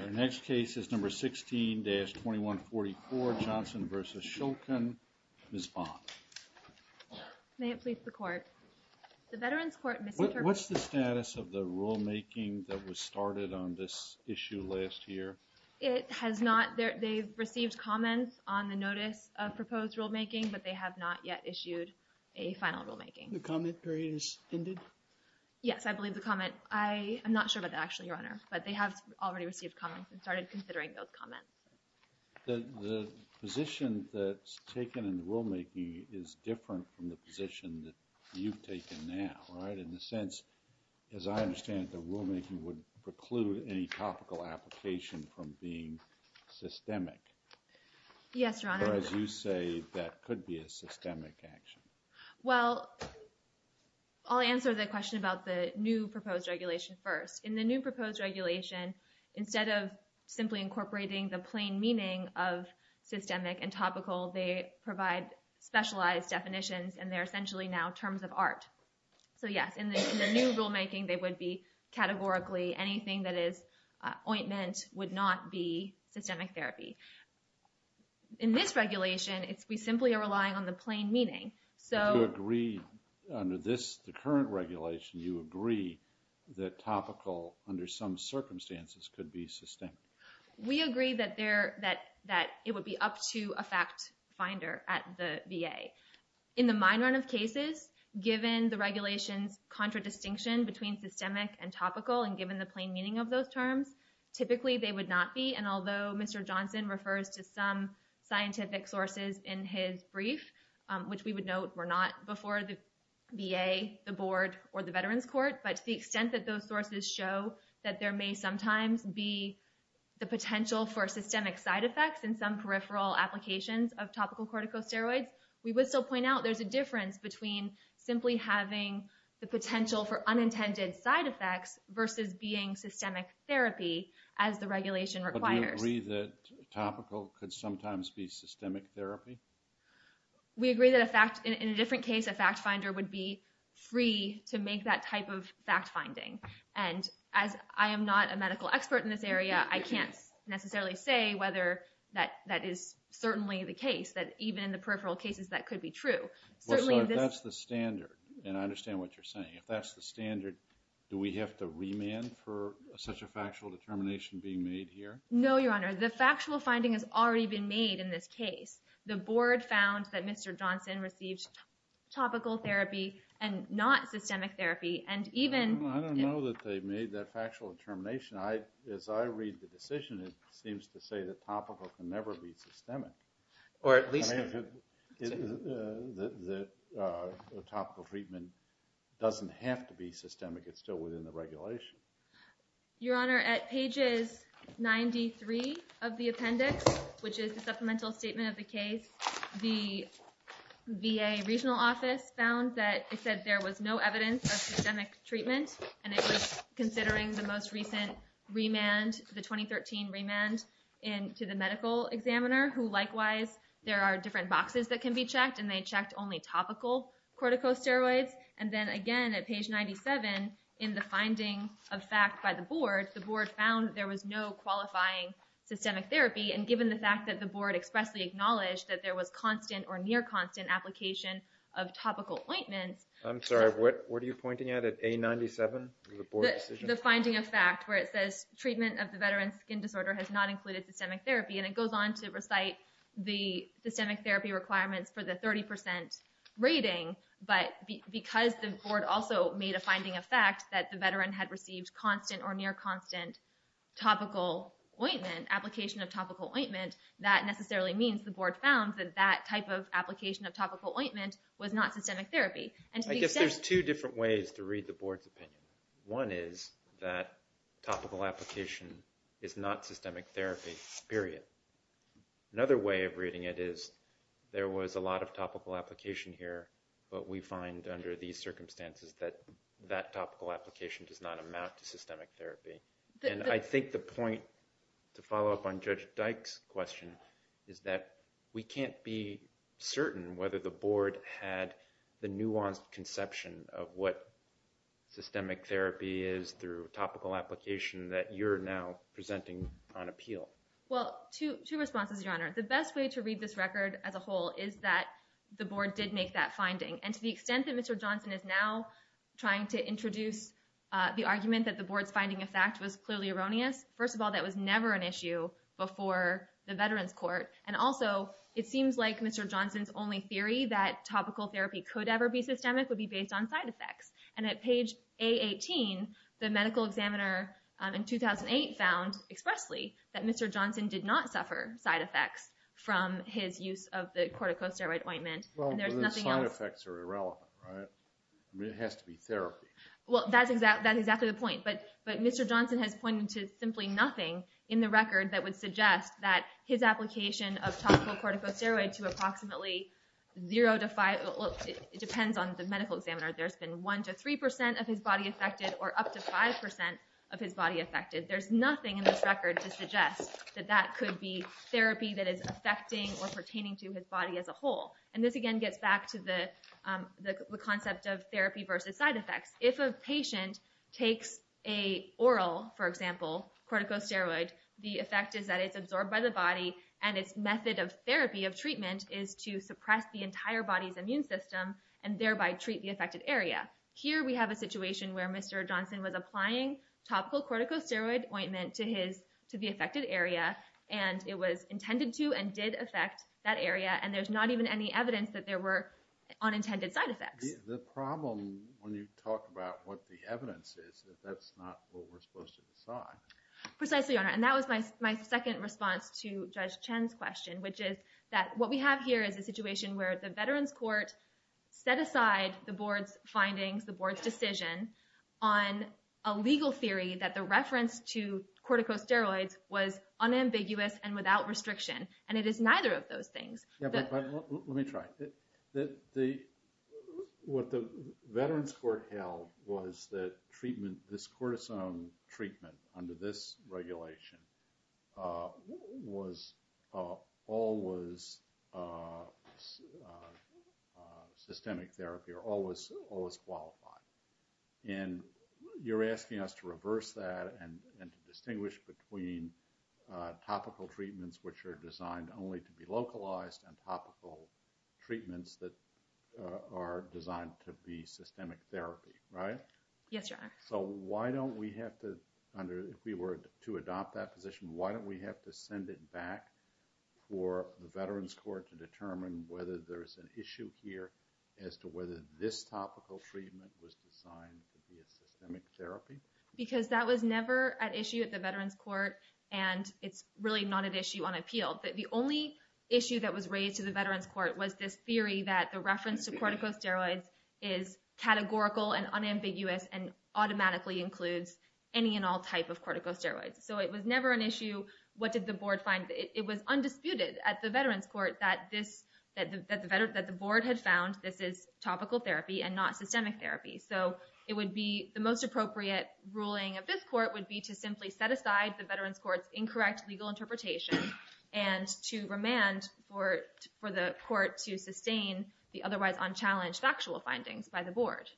Our next case is number 16-2144, Johnson v. Shulkin. Ms. Bond. May it please the Court. The Veterans Court misinterpreted... What's the status of the rulemaking that was started on this issue last year? It has not... They've received comments on the notice of proposed rulemaking, but they have not yet issued a final rulemaking. The comment period has ended? Yes, I believe the comment... I'm not sure about that actually, Your Honor, but they have already received comments and started considering those comments. The position that's taken in the rulemaking is different from the position that you've taken now, right? In the sense, as I understand it, the rulemaking would preclude any topical application from being systemic. Yes, Your Honor. Or as you say, that could be a systemic action. Well, I'll answer the question about the new proposed regulation first. In the new proposed regulation, instead of simply incorporating the plain meaning of systemic and topical, they provide specialized definitions, and they're essentially now terms of art. So yes, in the new rulemaking, they would be categorically anything that is ointment would not be systemic therapy. In this regulation, we simply are relying on the plain meaning. So... Do you agree under this, the current regulation, you agree that topical under some circumstances could be systemic? We agree that it would be up to a fact finder at the VA. In the mine run of cases, given the regulations contradistinction between systemic and topical, and given the plain meaning of those terms, typically they would not be. And although Mr. Johnson refers to some scientific sources in his brief, which we would note were not before the VA, the board, or the Veterans Court, but to the extent that those sources show that there may sometimes be the potential for systemic side effects in some peripheral applications of topical corticosteroids, we would still point out there's a difference between simply having the potential for unintended side effects versus being systemic therapy, as the regulation requires. But do you agree that topical could sometimes be systemic therapy? We agree that in a different case, a fact finder would be free to make that type of fact finding. And as I am not a medical expert in this area, I can't necessarily say whether that is certainly the case, that even in the peripheral cases that could be true. So if that's the standard, and I understand what you're saying, if that's the standard, do we have to remand for such a factual determination being made here? No, Your Honor, the factual finding has already been made in this case. The board found that Mr. Johnson received topical therapy and not systemic therapy, and even- I don't know that they made that factual determination. As I read the decision, it seems to say that topical can never be systemic. Or at least- The topical treatment doesn't have to be systemic. It's still within the regulation. Your Honor, at pages 93 of the appendix, which is the supplemental statement of the case, the VA regional office found that it said there was no evidence of systemic treatment. And it was considering the most recent remand, the 2013 remand to the medical examiner, who likewise, there are different boxes that can be checked, and they checked only topical corticosteroids. And then again, at page 97, in the finding of fact by the board, the board found there was no qualifying systemic therapy. And given the fact that the board expressly acknowledged that there was constant or near constant application of topical ointments- I'm sorry, what are you pointing at, at A97? The finding of fact, where it says treatment of the veteran's skin disorder has not included systemic therapy. And it goes on to recite the systemic therapy requirements for the 30% rating, but because the board also made a finding of fact that the veteran had received constant or near constant topical ointment, application of topical ointment, that necessarily means the board found that that type of application of topical ointment was not systemic therapy. I guess there's two different ways to read the board's opinion. One is that topical application is not systemic therapy, period. Another way of reading it is there was a lot of topical application here, but we find under these circumstances that that topical application does not amount to systemic therapy. And I think the point, to follow up on Judge Dyke's question, is that we can't be certain whether the board had the nuanced conception of what systemic therapy is through topical application that you're now presenting on appeal. Well, two responses, Your Honor. The best way to read this record as a whole is that the board did make that finding. And to the extent that Mr. Johnson is now trying to introduce the argument that the board's finding of fact was clearly erroneous, first of all, that was never an issue before the Veterans Court. And also, it seems like Mr. Johnson's only theory that topical therapy could ever be systemic would be based on side effects. And at page A18, the medical examiner in 2008 found expressly that Mr. Johnson did not suffer side effects from his use of the corticosteroid ointment. Well, the side effects are irrelevant, right? I mean, it has to be therapy. Well, that's exactly the point. But Mr. Johnson has pointed to simply nothing in the record that would suggest that his application of topical corticosteroid to approximately 0 to 5—well, it depends on the medical examiner. There's been 1 to 3% of his body affected or up to 5% of his body affected. There's nothing in this record to suggest that that could be therapy that is affecting or pertaining to his body as a whole. And this again gets back to the concept of therapy versus side effects. If a patient takes an oral, for example, corticosteroid, the effect is that it's absorbed by the body and its method of therapy, of treatment, is to suppress the entire body's immune system and thereby treat the affected area. Here we have a situation where Mr. Johnson was applying topical corticosteroid ointment to the affected area. And it was intended to and did affect that area. And there's not even any evidence that there were unintended side effects. The problem when you talk about what the evidence is is that that's not what we're supposed to decide. Precisely, Your Honor. And that was my second response to Judge Chen's question, which is that what we have here is a situation where the Veterans Court set aside the board's findings, the board's decision, on a legal theory that the reference to corticosteroids was unambiguous and without restriction. And it is neither of those things. Yeah, but let me try. What the Veterans Court held was that treatment, this cortisone treatment under this regulation, was always systemic therapy or always qualified. And you're asking us to reverse that and to distinguish between topical treatments, which are designed only to be localized, and topical treatments that are designed to be systemic therapy, right? Yes, Your Honor. So why don't we have to, if we were to adopt that position, why don't we have to send it back for the Veterans Court to determine whether there's an issue here as to whether this topical treatment was designed to be a systemic therapy? Because that was never an issue at the Veterans Court, and it's really not an issue on appeal. But the only issue that was raised to the Veterans Court was this theory that the reference to corticosteroids is categorical and unambiguous and automatically includes any and all type of corticosteroids. So it was never an issue what did the board find. It was undisputed at the Veterans Court that the board had found this is topical therapy and not systemic therapy. So it would be the most appropriate ruling of this court would be to simply set aside the Veterans Court's incorrect legal interpretation and to remand for the court to sustain the otherwise unchallenged factual findings by the board.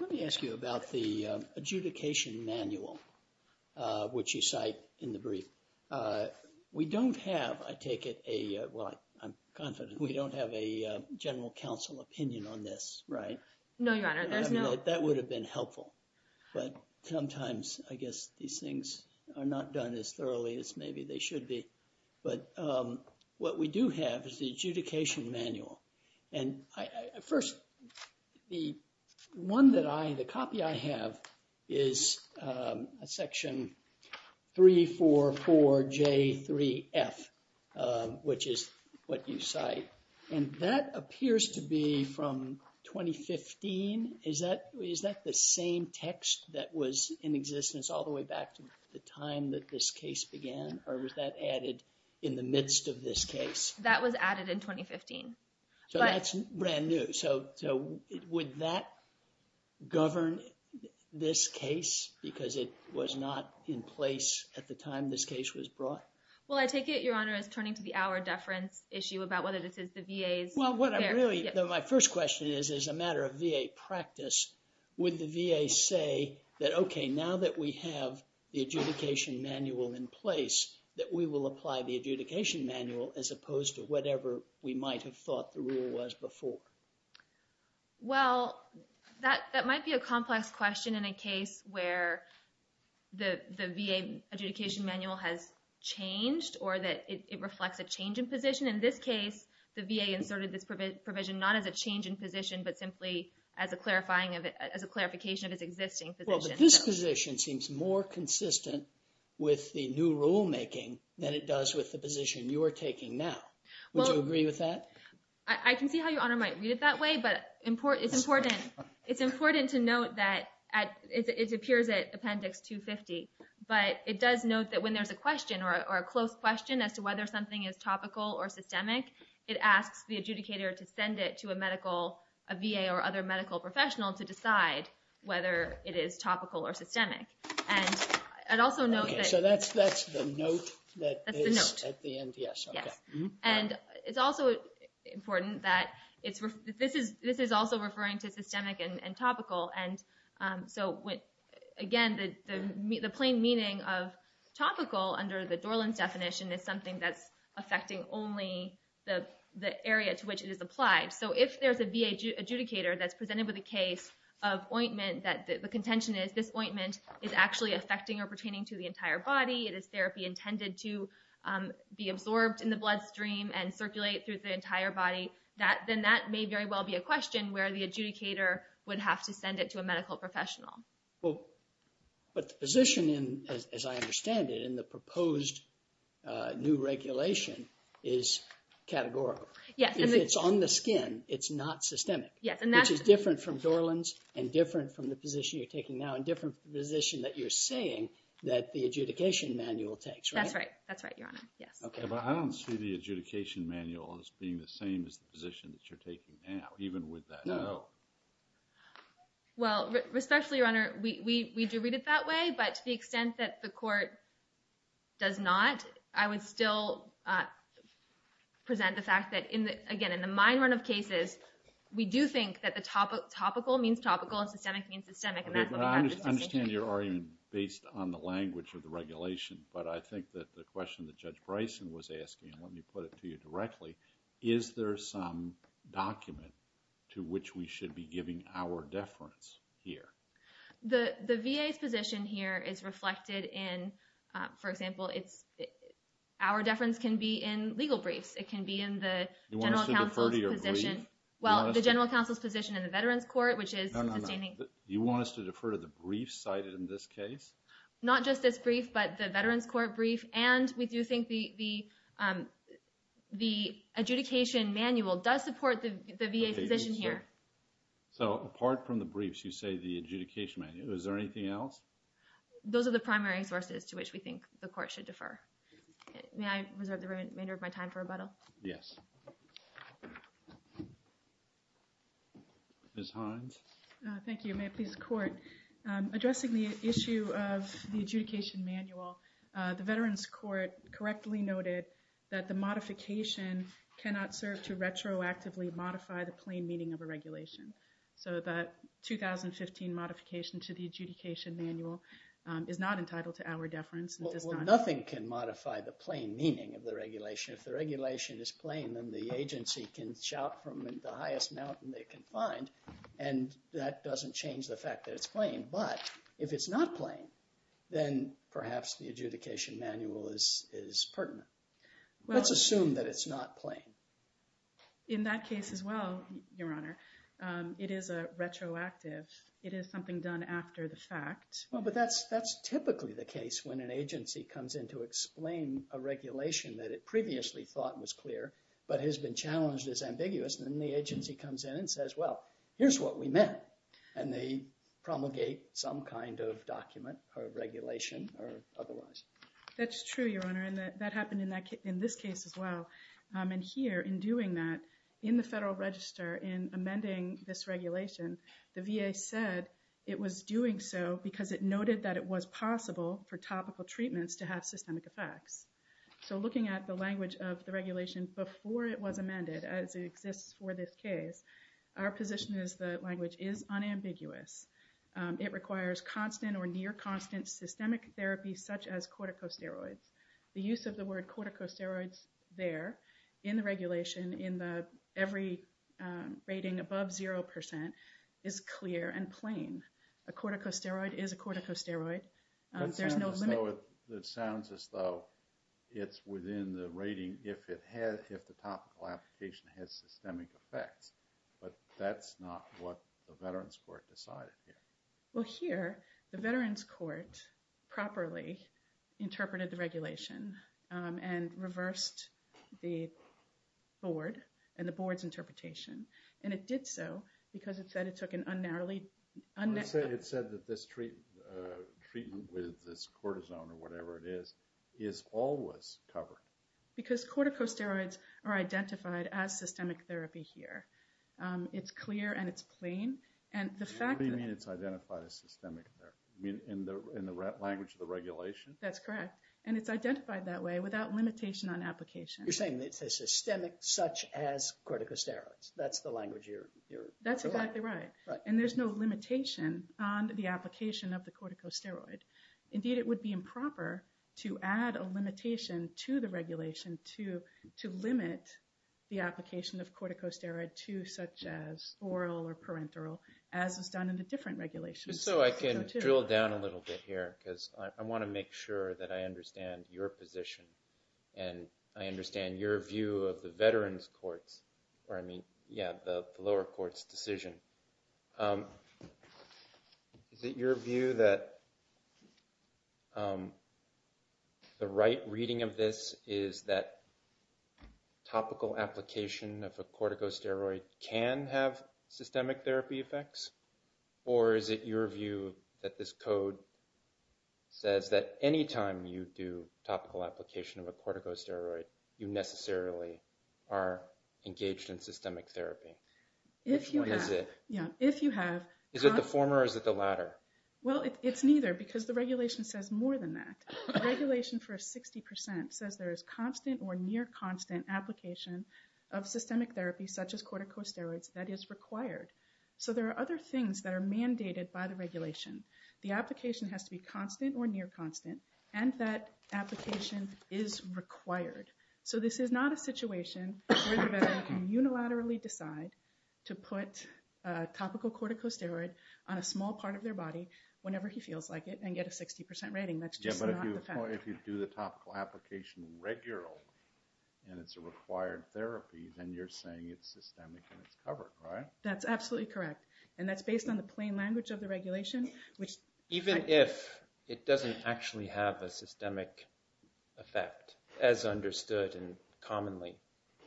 Let me ask you about the adjudication manual, which you cite in the brief. We don't have, I take it a, well, I'm confident we don't have a general counsel opinion on this, right? No, your honor, there's no. That would have been helpful. But sometimes I guess these things are not done as thoroughly as maybe they should be. But what we do have is the adjudication manual. First, the one that I, the copy I have is a section 344J3F, which is what you cite. And that appears to be from 2015. Is that the same text that was in existence all the way back to the time that this case began? Or was that added in the midst of this case? That was added in 2015. So that's brand new. So would that govern this case because it was not in place at the time this case was brought? Well, I take it, your honor, is turning to the hour deference issue about whether this is the VA's. Well, my first question is, as a matter of VA practice, would the VA say that, okay, now that we have the adjudication manual in place, that we will apply the adjudication manual as opposed to whatever we might have thought the rule was before? Well, that might be a complex question in a case where the VA adjudication manual has changed or that it reflects a change in position. In this case, the VA inserted this provision not as a change in position but simply as a clarification of its existing position. Well, but this position seems more consistent with the new rulemaking than it does with the position you are taking now. Would you agree with that? I can see how your honor might read it that way, but it's important to note that it appears at Appendix 250. But it does note that when there's a question or a close question as to whether something is topical or systemic, it asks the adjudicator to send it to a medical, a VA or other medical professional to decide whether it is topical or systemic. And also note that... Okay, so that's the note that is at the end, yes. Yes. And it's also important that this is also referring to systemic and topical. And so, again, the plain meaning of topical under the Dorland's definition is something that's affecting only the area to which it is applied. So if there's a VA adjudicator that's presented with a case of ointment that the contention is this ointment is actually affecting or pertaining to the entire body, it is therapy intended to be absorbed in the bloodstream and circulate through the entire body, then that may very well be a question where the adjudicator would have to send it to a medical professional. But the position, as I understand it, in the proposed new regulation is categorical. Yes. If it's on the skin, it's not systemic. Yes. Which is different from Dorland's and different from the position you're taking now and different from the position that you're saying that the adjudication manual takes, right? That's right. That's right, Your Honor. Yes. I don't see the adjudication manual as being the same as the position that you're taking now, even with that. No. Well, especially, Your Honor, we do read it that way, but to the extent that the court does not, I would still present the fact that, again, in the mine run of cases, we do think that topical means topical and systemic means systemic. I understand your argument based on the language of the regulation, but I think that the question that Judge Bryson was asking, and let me put it to you directly, is there some document to which we should be giving our deference here? The VA's position here is reflected in, for example, our deference can be in legal briefs. It can be in the General Counsel's position. You want us to defer to your brief? Well, the General Counsel's position in the Veterans Court, which is sustaining. No, no, no. You want us to defer to the brief cited in this case? Not just this brief, but the Veterans Court brief, and we do think the adjudication manual does support the VA's position here. So apart from the briefs, you say the adjudication manual. Is there anything else? Those are the primary sources to which we think the court should defer. May I reserve the remainder of my time for rebuttal? Yes. Thank you. May it please the Court. Addressing the issue of the adjudication manual, the Veterans Court correctly noted that the modification cannot serve to retroactively modify the plain meaning of a regulation. So the 2015 modification to the adjudication manual is not entitled to our deference. Well, nothing can modify the plain meaning of the regulation. If the regulation is plain, then the agency can shout from the highest mountain they can find, and that doesn't change the fact that it's plain. But if it's not plain, then perhaps the adjudication manual is pertinent. Let's assume that it's not plain. In that case as well, Your Honor, it is a retroactive. It is something done after the fact. Well, but that's typically the case when an agency comes in to explain a regulation that it previously thought was clear, but has been challenged as ambiguous, and then the agency comes in and says, well, here's what we meant, and they promulgate some kind of document or regulation or otherwise. That's true, Your Honor, and that happened in this case as well. And here, in doing that, in the Federal Register, in amending this regulation, the VA said it was doing so because it noted that it was possible for topical treatments to have systemic effects. So looking at the language of the regulation before it was amended, as it exists for this case, our position is that language is unambiguous. It requires constant or near constant systemic therapy such as corticosteroids. The use of the word corticosteroids there in the regulation in every rating above 0% is clear and plain. A corticosteroid is a corticosteroid. That sounds as though it's within the rating if the topical application has systemic effects, but that's not what the Veterans Court decided here. Well, here, the Veterans Court properly interpreted the regulation and reversed the board and the board's interpretation, and it did so because it said it took an unnarrowly... It said that this treatment with this cortisone or whatever it is is always covered. Because corticosteroids are identified as systemic therapy here. It's clear and it's plain, and the fact that... What do you mean it's identified as systemic therapy? You mean in the language of the regulation? That's correct, and it's identified that way without limitation on application. You're saying it's a systemic such as corticosteroids. That's the language you're... That's exactly right, and there's no limitation on the application of the corticosteroid. Indeed, it would be improper to add a limitation to the regulation to limit the application of corticosteroid to such as oral or parenteral, as is done in the different regulations. Just so I can drill down a little bit here, because I want to make sure that I understand your position, and I understand your view of the Veterans Courts, or I mean, yeah, the lower courts' decision. Is it your view that the right reading of this is that topical application of a corticosteroid can have systemic therapy effects? Or is it your view that this code says that any time you do topical application of a corticosteroid, you necessarily are engaged in systemic therapy? If you have... Which one is it? Yeah, if you have... Is it the former or is it the latter? Well, it's neither, because the regulation says more than that. The regulation for 60% says there is constant or near constant application of systemic therapy such as corticosteroids that is required. So there are other things that are mandated by the regulation. The application has to be constant or near constant, and that application is required. So this is not a situation where the Veteran can unilaterally decide to put a topical corticosteroid on a small part of their body whenever he feels like it and get a 60% rating. That's just not the fact. Yeah, but if you do the topical application regularly and it's a required therapy, then you're saying it's systemic and it's covered, right? That's absolutely correct. And that's based on the plain language of the regulation, which... Even if it doesn't actually have a systemic effect as understood commonly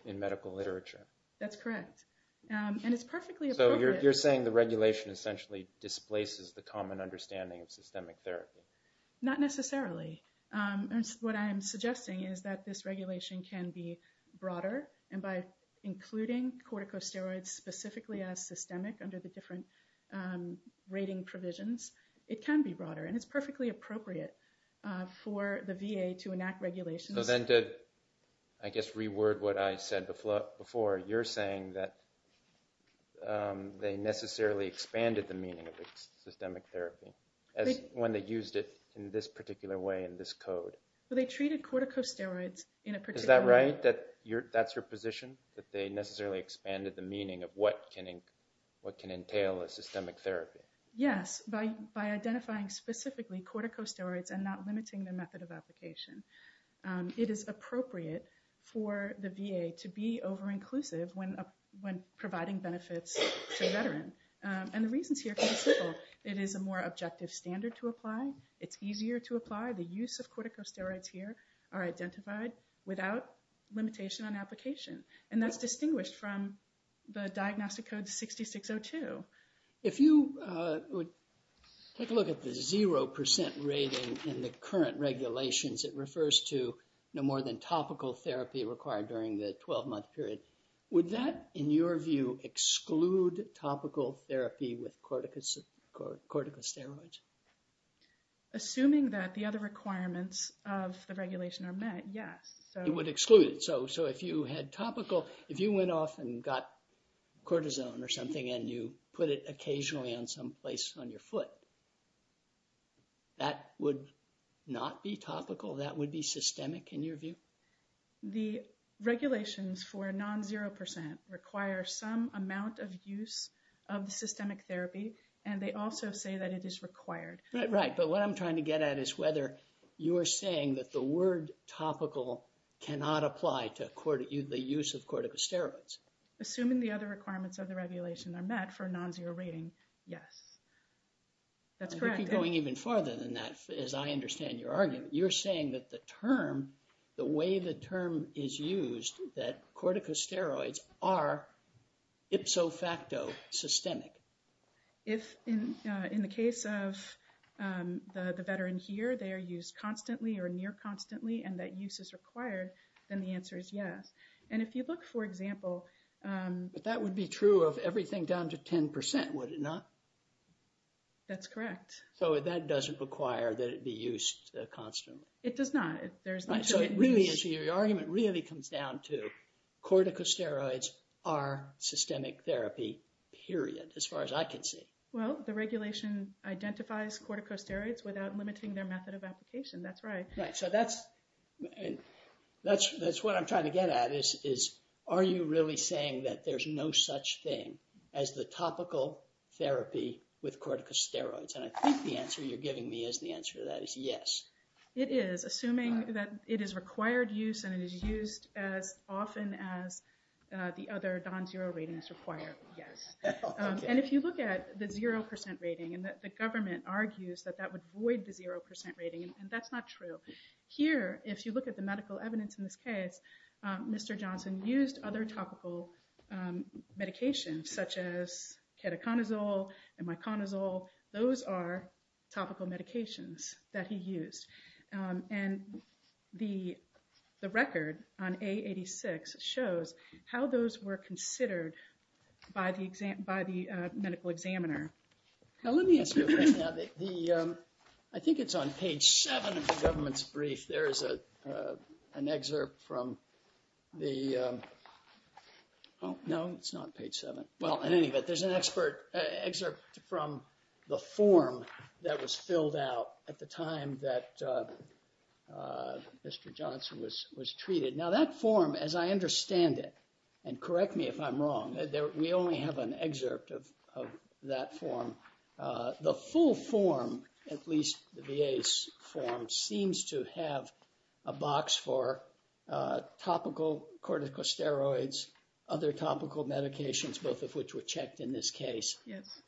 in medical literature? That's correct. And it's perfectly appropriate... So you're saying the regulation essentially displaces the common understanding of systemic therapy? Not necessarily. What I'm suggesting is that this regulation can be broader, and by including corticosteroids specifically as systemic under the different rating provisions, it can be broader. And it's perfectly appropriate for the VA to enact regulations... So then to, I guess, reword what I said before, you're saying that they necessarily expanded the meaning of systemic therapy when they used it in this particular way in this code? Well, they treated corticosteroids in a particular... Is that right, that that's your position, that they necessarily expanded the meaning of what can entail a systemic therapy? Yes, by identifying specifically corticosteroids and not limiting the method of application. It is appropriate for the VA to be over-inclusive when providing benefits to a veteran. And the reasons here can be simple. It is a more objective standard to apply. It's easier to apply. The use of corticosteroids here are identified without limitation on application, and that's distinguished from the Diagnostic Code 6602. If you would take a look at the 0% rating in the current regulations, it refers to no more than topical therapy required during the 12-month period. Would that, in your view, exclude topical therapy with corticosteroids? Assuming that the other requirements of the regulation are met, yes. It would exclude it. So if you had topical, if you went off and got cortisone or something and you put it occasionally on some place on your foot, that would not be topical? That would be systemic, in your view? The regulations for non-0% require some amount of use of systemic therapy, and they also say that it is required. Right. But what I'm trying to get at is whether you're saying that the word topical cannot apply to the use of corticosteroids. Assuming the other requirements of the regulation are met for non-0% rating, yes. That's correct. We could be going even farther than that, as I understand your argument. You're saying that the term, the way the term is used, that corticosteroids are ipso facto systemic. If, in the case of the veteran here, they are used constantly or near constantly and that use is required, then the answer is yes. And if you look, for example… But that would be true of everything down to 10%, would it not? That's correct. So that doesn't require that it be used constantly? It does not. So your argument really comes down to corticosteroids are systemic therapy, period, as far as I can see. Well, the regulation identifies corticosteroids without limiting their method of application. That's right. So that's what I'm trying to get at is, are you really saying that there's no such thing as the topical therapy with corticosteroids? And I think the answer you're giving me is the answer to that is yes. It is, assuming that it is required use and it is used as often as the other non-zero ratings require. Yes. And if you look at the 0% rating, and the government argues that that would void the 0% rating, and that's not true. Here, if you look at the medical evidence in this case, Mr. Johnson used other topical medications, such as ketoconazole and myconazole. Those are topical medications that he used. And the record on A86 shows how those were considered by the medical examiner. Now let me ask you a question. I think it's on page 7 of the government's brief. There is an excerpt from the – no, it's not page 7. Well, in any event, there's an excerpt from the form that was filled out at the time that Mr. Johnson was treated. Now that form, as I understand it, and correct me if I'm wrong, we only have an excerpt of that form. The full form, at least the VA's form, seems to have a box for topical corticosteroids, other topical medications, both of which were checked in this case.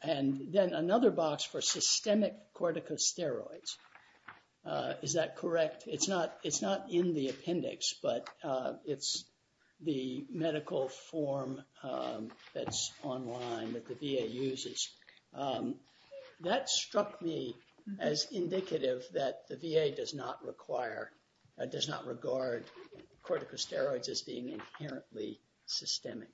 And then another box for systemic corticosteroids. Is that correct? It's not in the appendix, but it's the medical form that's online that the VA uses. That struck me as indicative that the VA does not require or does not regard corticosteroids as being inherently systemic.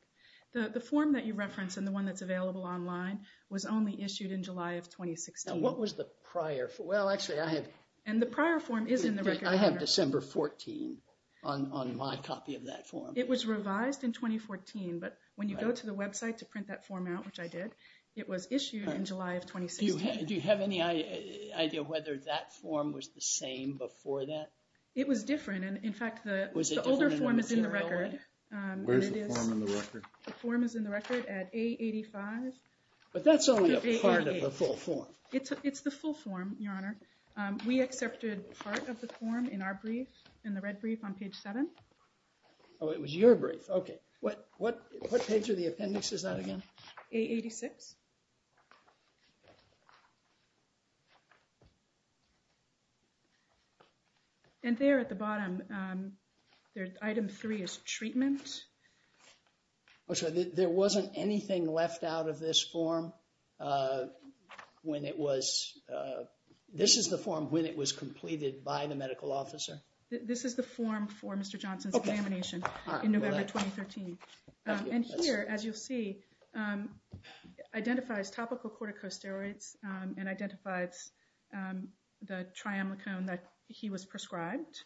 The form that you reference and the one that's available online was only issued in July of 2016. Now what was the prior – well, actually, I have – And the prior form is in the record. I have December 14 on my copy of that form. It was revised in 2014, but when you go to the website to print that form out, which I did, it was issued in July of 2016. Do you have any idea whether that form was the same before that? It was different. In fact, the older form is in the record. Where's the form in the record? The form is in the record at A85. But that's only a part of the full form. It's the full form, Your Honor. We accepted part of the form in our brief, in the red brief on page 7. Oh, it was your brief. Okay. What page of the appendix is that again? A86. And there at the bottom, item 3 is treatment. I'm sorry, there wasn't anything left out of this form when it was – this is the form when it was completed by the medical officer? This is the form for Mr. Johnson's examination in November 2013. And here, as you'll see, identifies topical corticosteroids and identifies the triamlicone that he was prescribed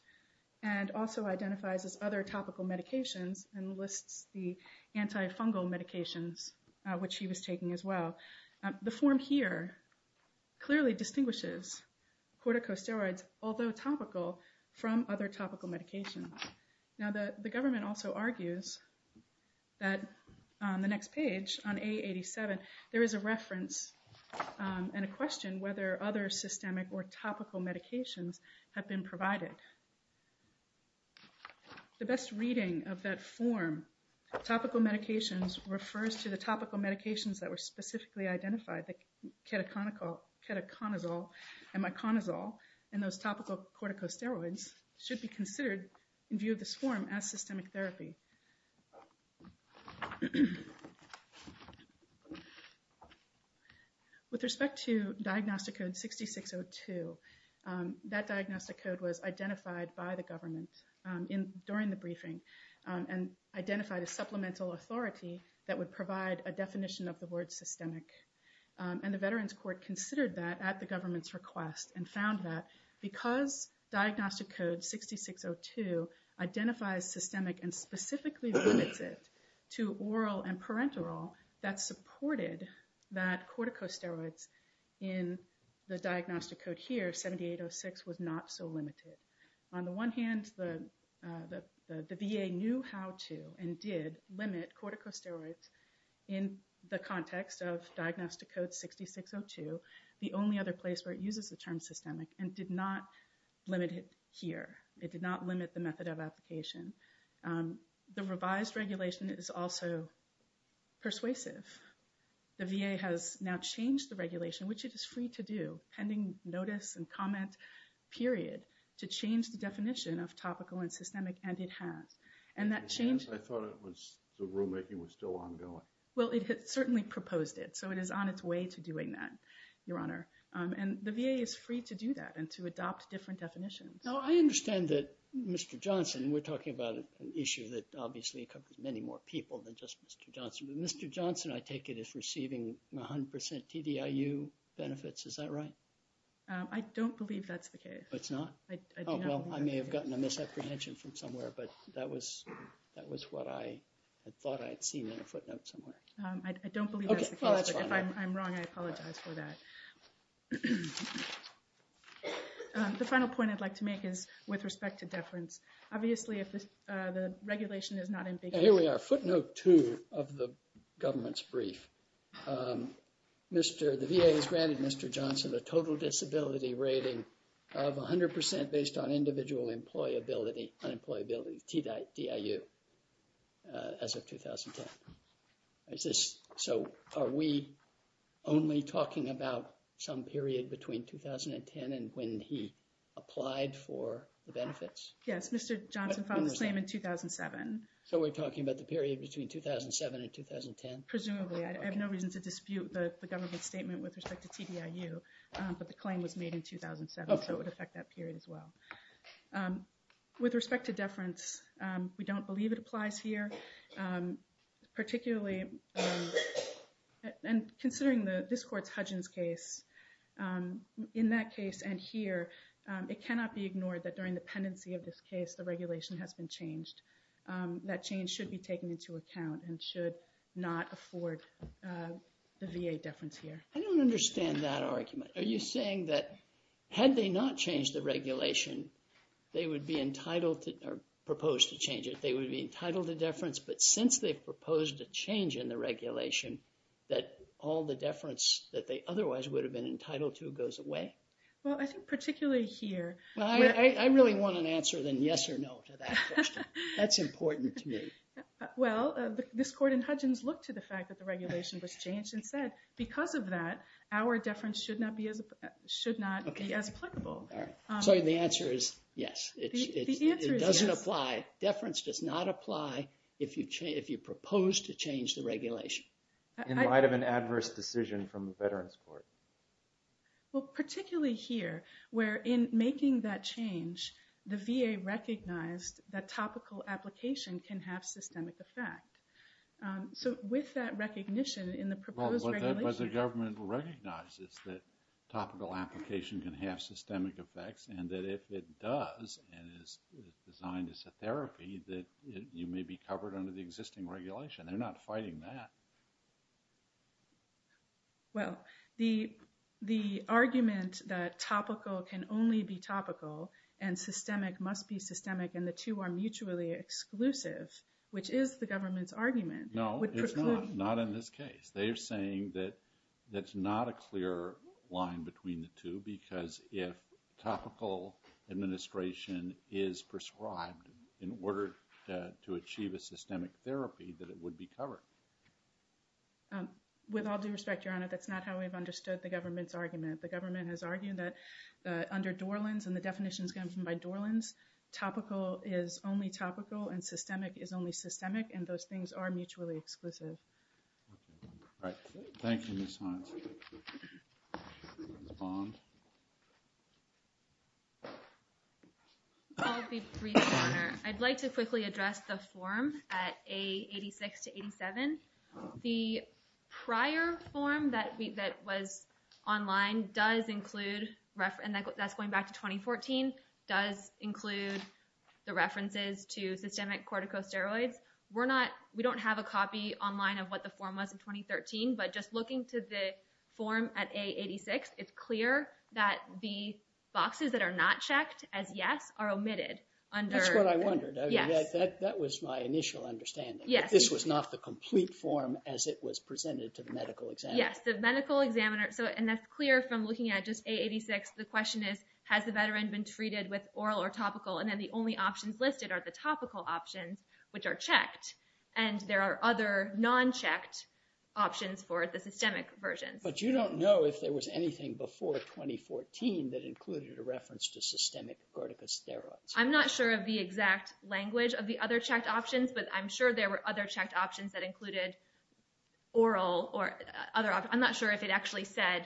and also identifies as other topical medications and lists the antifungal medications, which he was taking as well. The form here clearly distinguishes corticosteroids, although topical, from other topical medications. Now, the government also argues that on the next page, on A87, there is a reference and a question whether other systemic or topical medications have been provided. The best reading of that form, topical medications, refers to the topical medications that were specifically identified, the ketoconazole and miconozole, and those topical corticosteroids should be considered, in view of this form, as systemic therapy. With respect to Diagnostic Code 6602, that diagnostic code was identified by the government during the briefing and identified a supplemental authority that would provide a definition of the word systemic. And the Veterans Court considered that at the government's request and found that because Diagnostic Code 6602 identifies systemic and specifically limits it to oral and parenteral, that supported that corticosteroids in the diagnostic code here, 7806, was not so limited. On the one hand, the VA knew how to and did limit corticosteroids in the context of Diagnostic Code 6602. The only other place where it uses the term systemic and did not limit it here. It did not limit the method of application. The revised regulation is also persuasive. The VA has now changed the regulation, which it is free to do, pending notice and comment period, to change the definition of topical and systemic, and it has. And that change... I thought the rulemaking was still ongoing. Well, it certainly proposed it, so it is on its way to doing that. Your Honor. And the VA is free to do that and to adopt different definitions. Now, I understand that Mr. Johnson, we're talking about an issue that obviously covers many more people than just Mr. Johnson. But Mr. Johnson, I take it, is receiving 100% TDIU benefits. Is that right? I don't believe that's the case. It's not? Oh, well, I may have gotten a misapprehension from somewhere, but that was what I had thought I had seen in a footnote somewhere. I don't believe that's the case. If I'm wrong, I apologize for that. The final point I'd like to make is with respect to deference. Obviously, if the regulation is not in place... Here we are, footnote two of the government's brief. The VA has granted Mr. Johnson a total disability rating of 100% based on individual employability and employability, TDIU, as of 2010. So are we only talking about some period between 2010 and when he applied for the benefits? Yes, Mr. Johnson filed the claim in 2007. So we're talking about the period between 2007 and 2010? Presumably. I have no reason to dispute the government's statement with respect to TDIU, but the claim was made in 2007, so it would affect that period as well. With respect to deference, we don't believe it applies here. Particularly, and considering this court's Hudgens case, in that case and here, it cannot be ignored that during the pendency of this case, the regulation has been changed. That change should be taken into account and should not afford the VA deference here. I don't understand that argument. Are you saying that had they not changed the regulation, they would be entitled to, or proposed to change it, they would be entitled to deference, but since they've proposed a change in the regulation, that all the deference that they otherwise would have been entitled to goes away? Well, I think particularly here... I really want an answer than yes or no to that question. That's important to me. Well, this court in Hudgens looked to the fact that the regulation was changed and said, because of that, our deference should not be as applicable. So the answer is yes. It doesn't apply. Deference does not apply if you propose to change the regulation. In light of an adverse decision from the Veterans Court. Well, particularly here, where in making that change, the VA recognized that topical application can have systemic effect. So with that recognition in the proposed regulation... But the government recognizes that topical application can have systemic effects and that if it does, and is designed as a therapy, that you may be covered under the existing regulation. They're not fighting that. Well, the argument that topical can only be topical and systemic must be systemic and the two are mutually exclusive, which is the government's argument... No, it's not. Not in this case. They're saying that that's not a clear line between the two because if topical administration is prescribed in order to achieve a systemic therapy, that it would be covered. With all due respect, Your Honor, that's not how we've understood the government's argument. The government has argued that under Dorland's and the definitions given by Dorland's, topical is only topical and systemic is only systemic, and those things are mutually exclusive. All right. Thank you, Ms. Hines. Ms. Bond? I'll be brief, Your Honor. I'd like to quickly address the form at A86 to 87. The prior form that was online does include... and that's going back to 2014... does include the references to systemic corticosteroids. We don't have a copy online of what the form was in 2013, but just looking to the form at A86, it's clear that the boxes that are not checked as yes are omitted. That's what I wondered. That was my initial understanding. This was not the complete form as it was presented to the medical examiner. Yes, the medical examiner... and that's clear from looking at just A86. The question is, has the veteran been treated with oral or topical, and then the only options listed are the topical options, which are checked, and there are other non-checked options for the systemic versions. But you don't know if there was anything before 2014 that included a reference to systemic corticosteroids. I'm not sure of the exact language of the other checked options, but I'm sure there were other checked options that included oral or other... I'm not sure if it actually said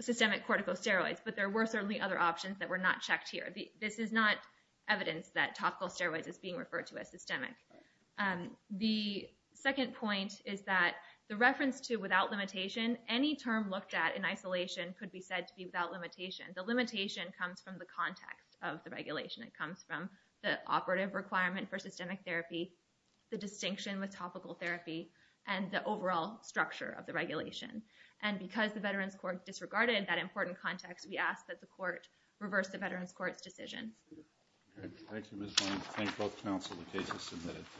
systemic corticosteroids, but there were certainly other options that were not checked here. This is not evidence that topical steroids is being referred to as systemic. The second point is that the reference to without limitation, any term looked at in isolation could be said to be without limitation. The limitation comes from the context of the regulation. It comes from the operative requirement for systemic therapy, the distinction with topical therapy, and the overall structure of the regulation. And because the Veterans Court disregarded that important context, we ask that the court reverse the Veterans Court's decision. Thank you, Ms. Blank. Thank both counsel. The case is submitted.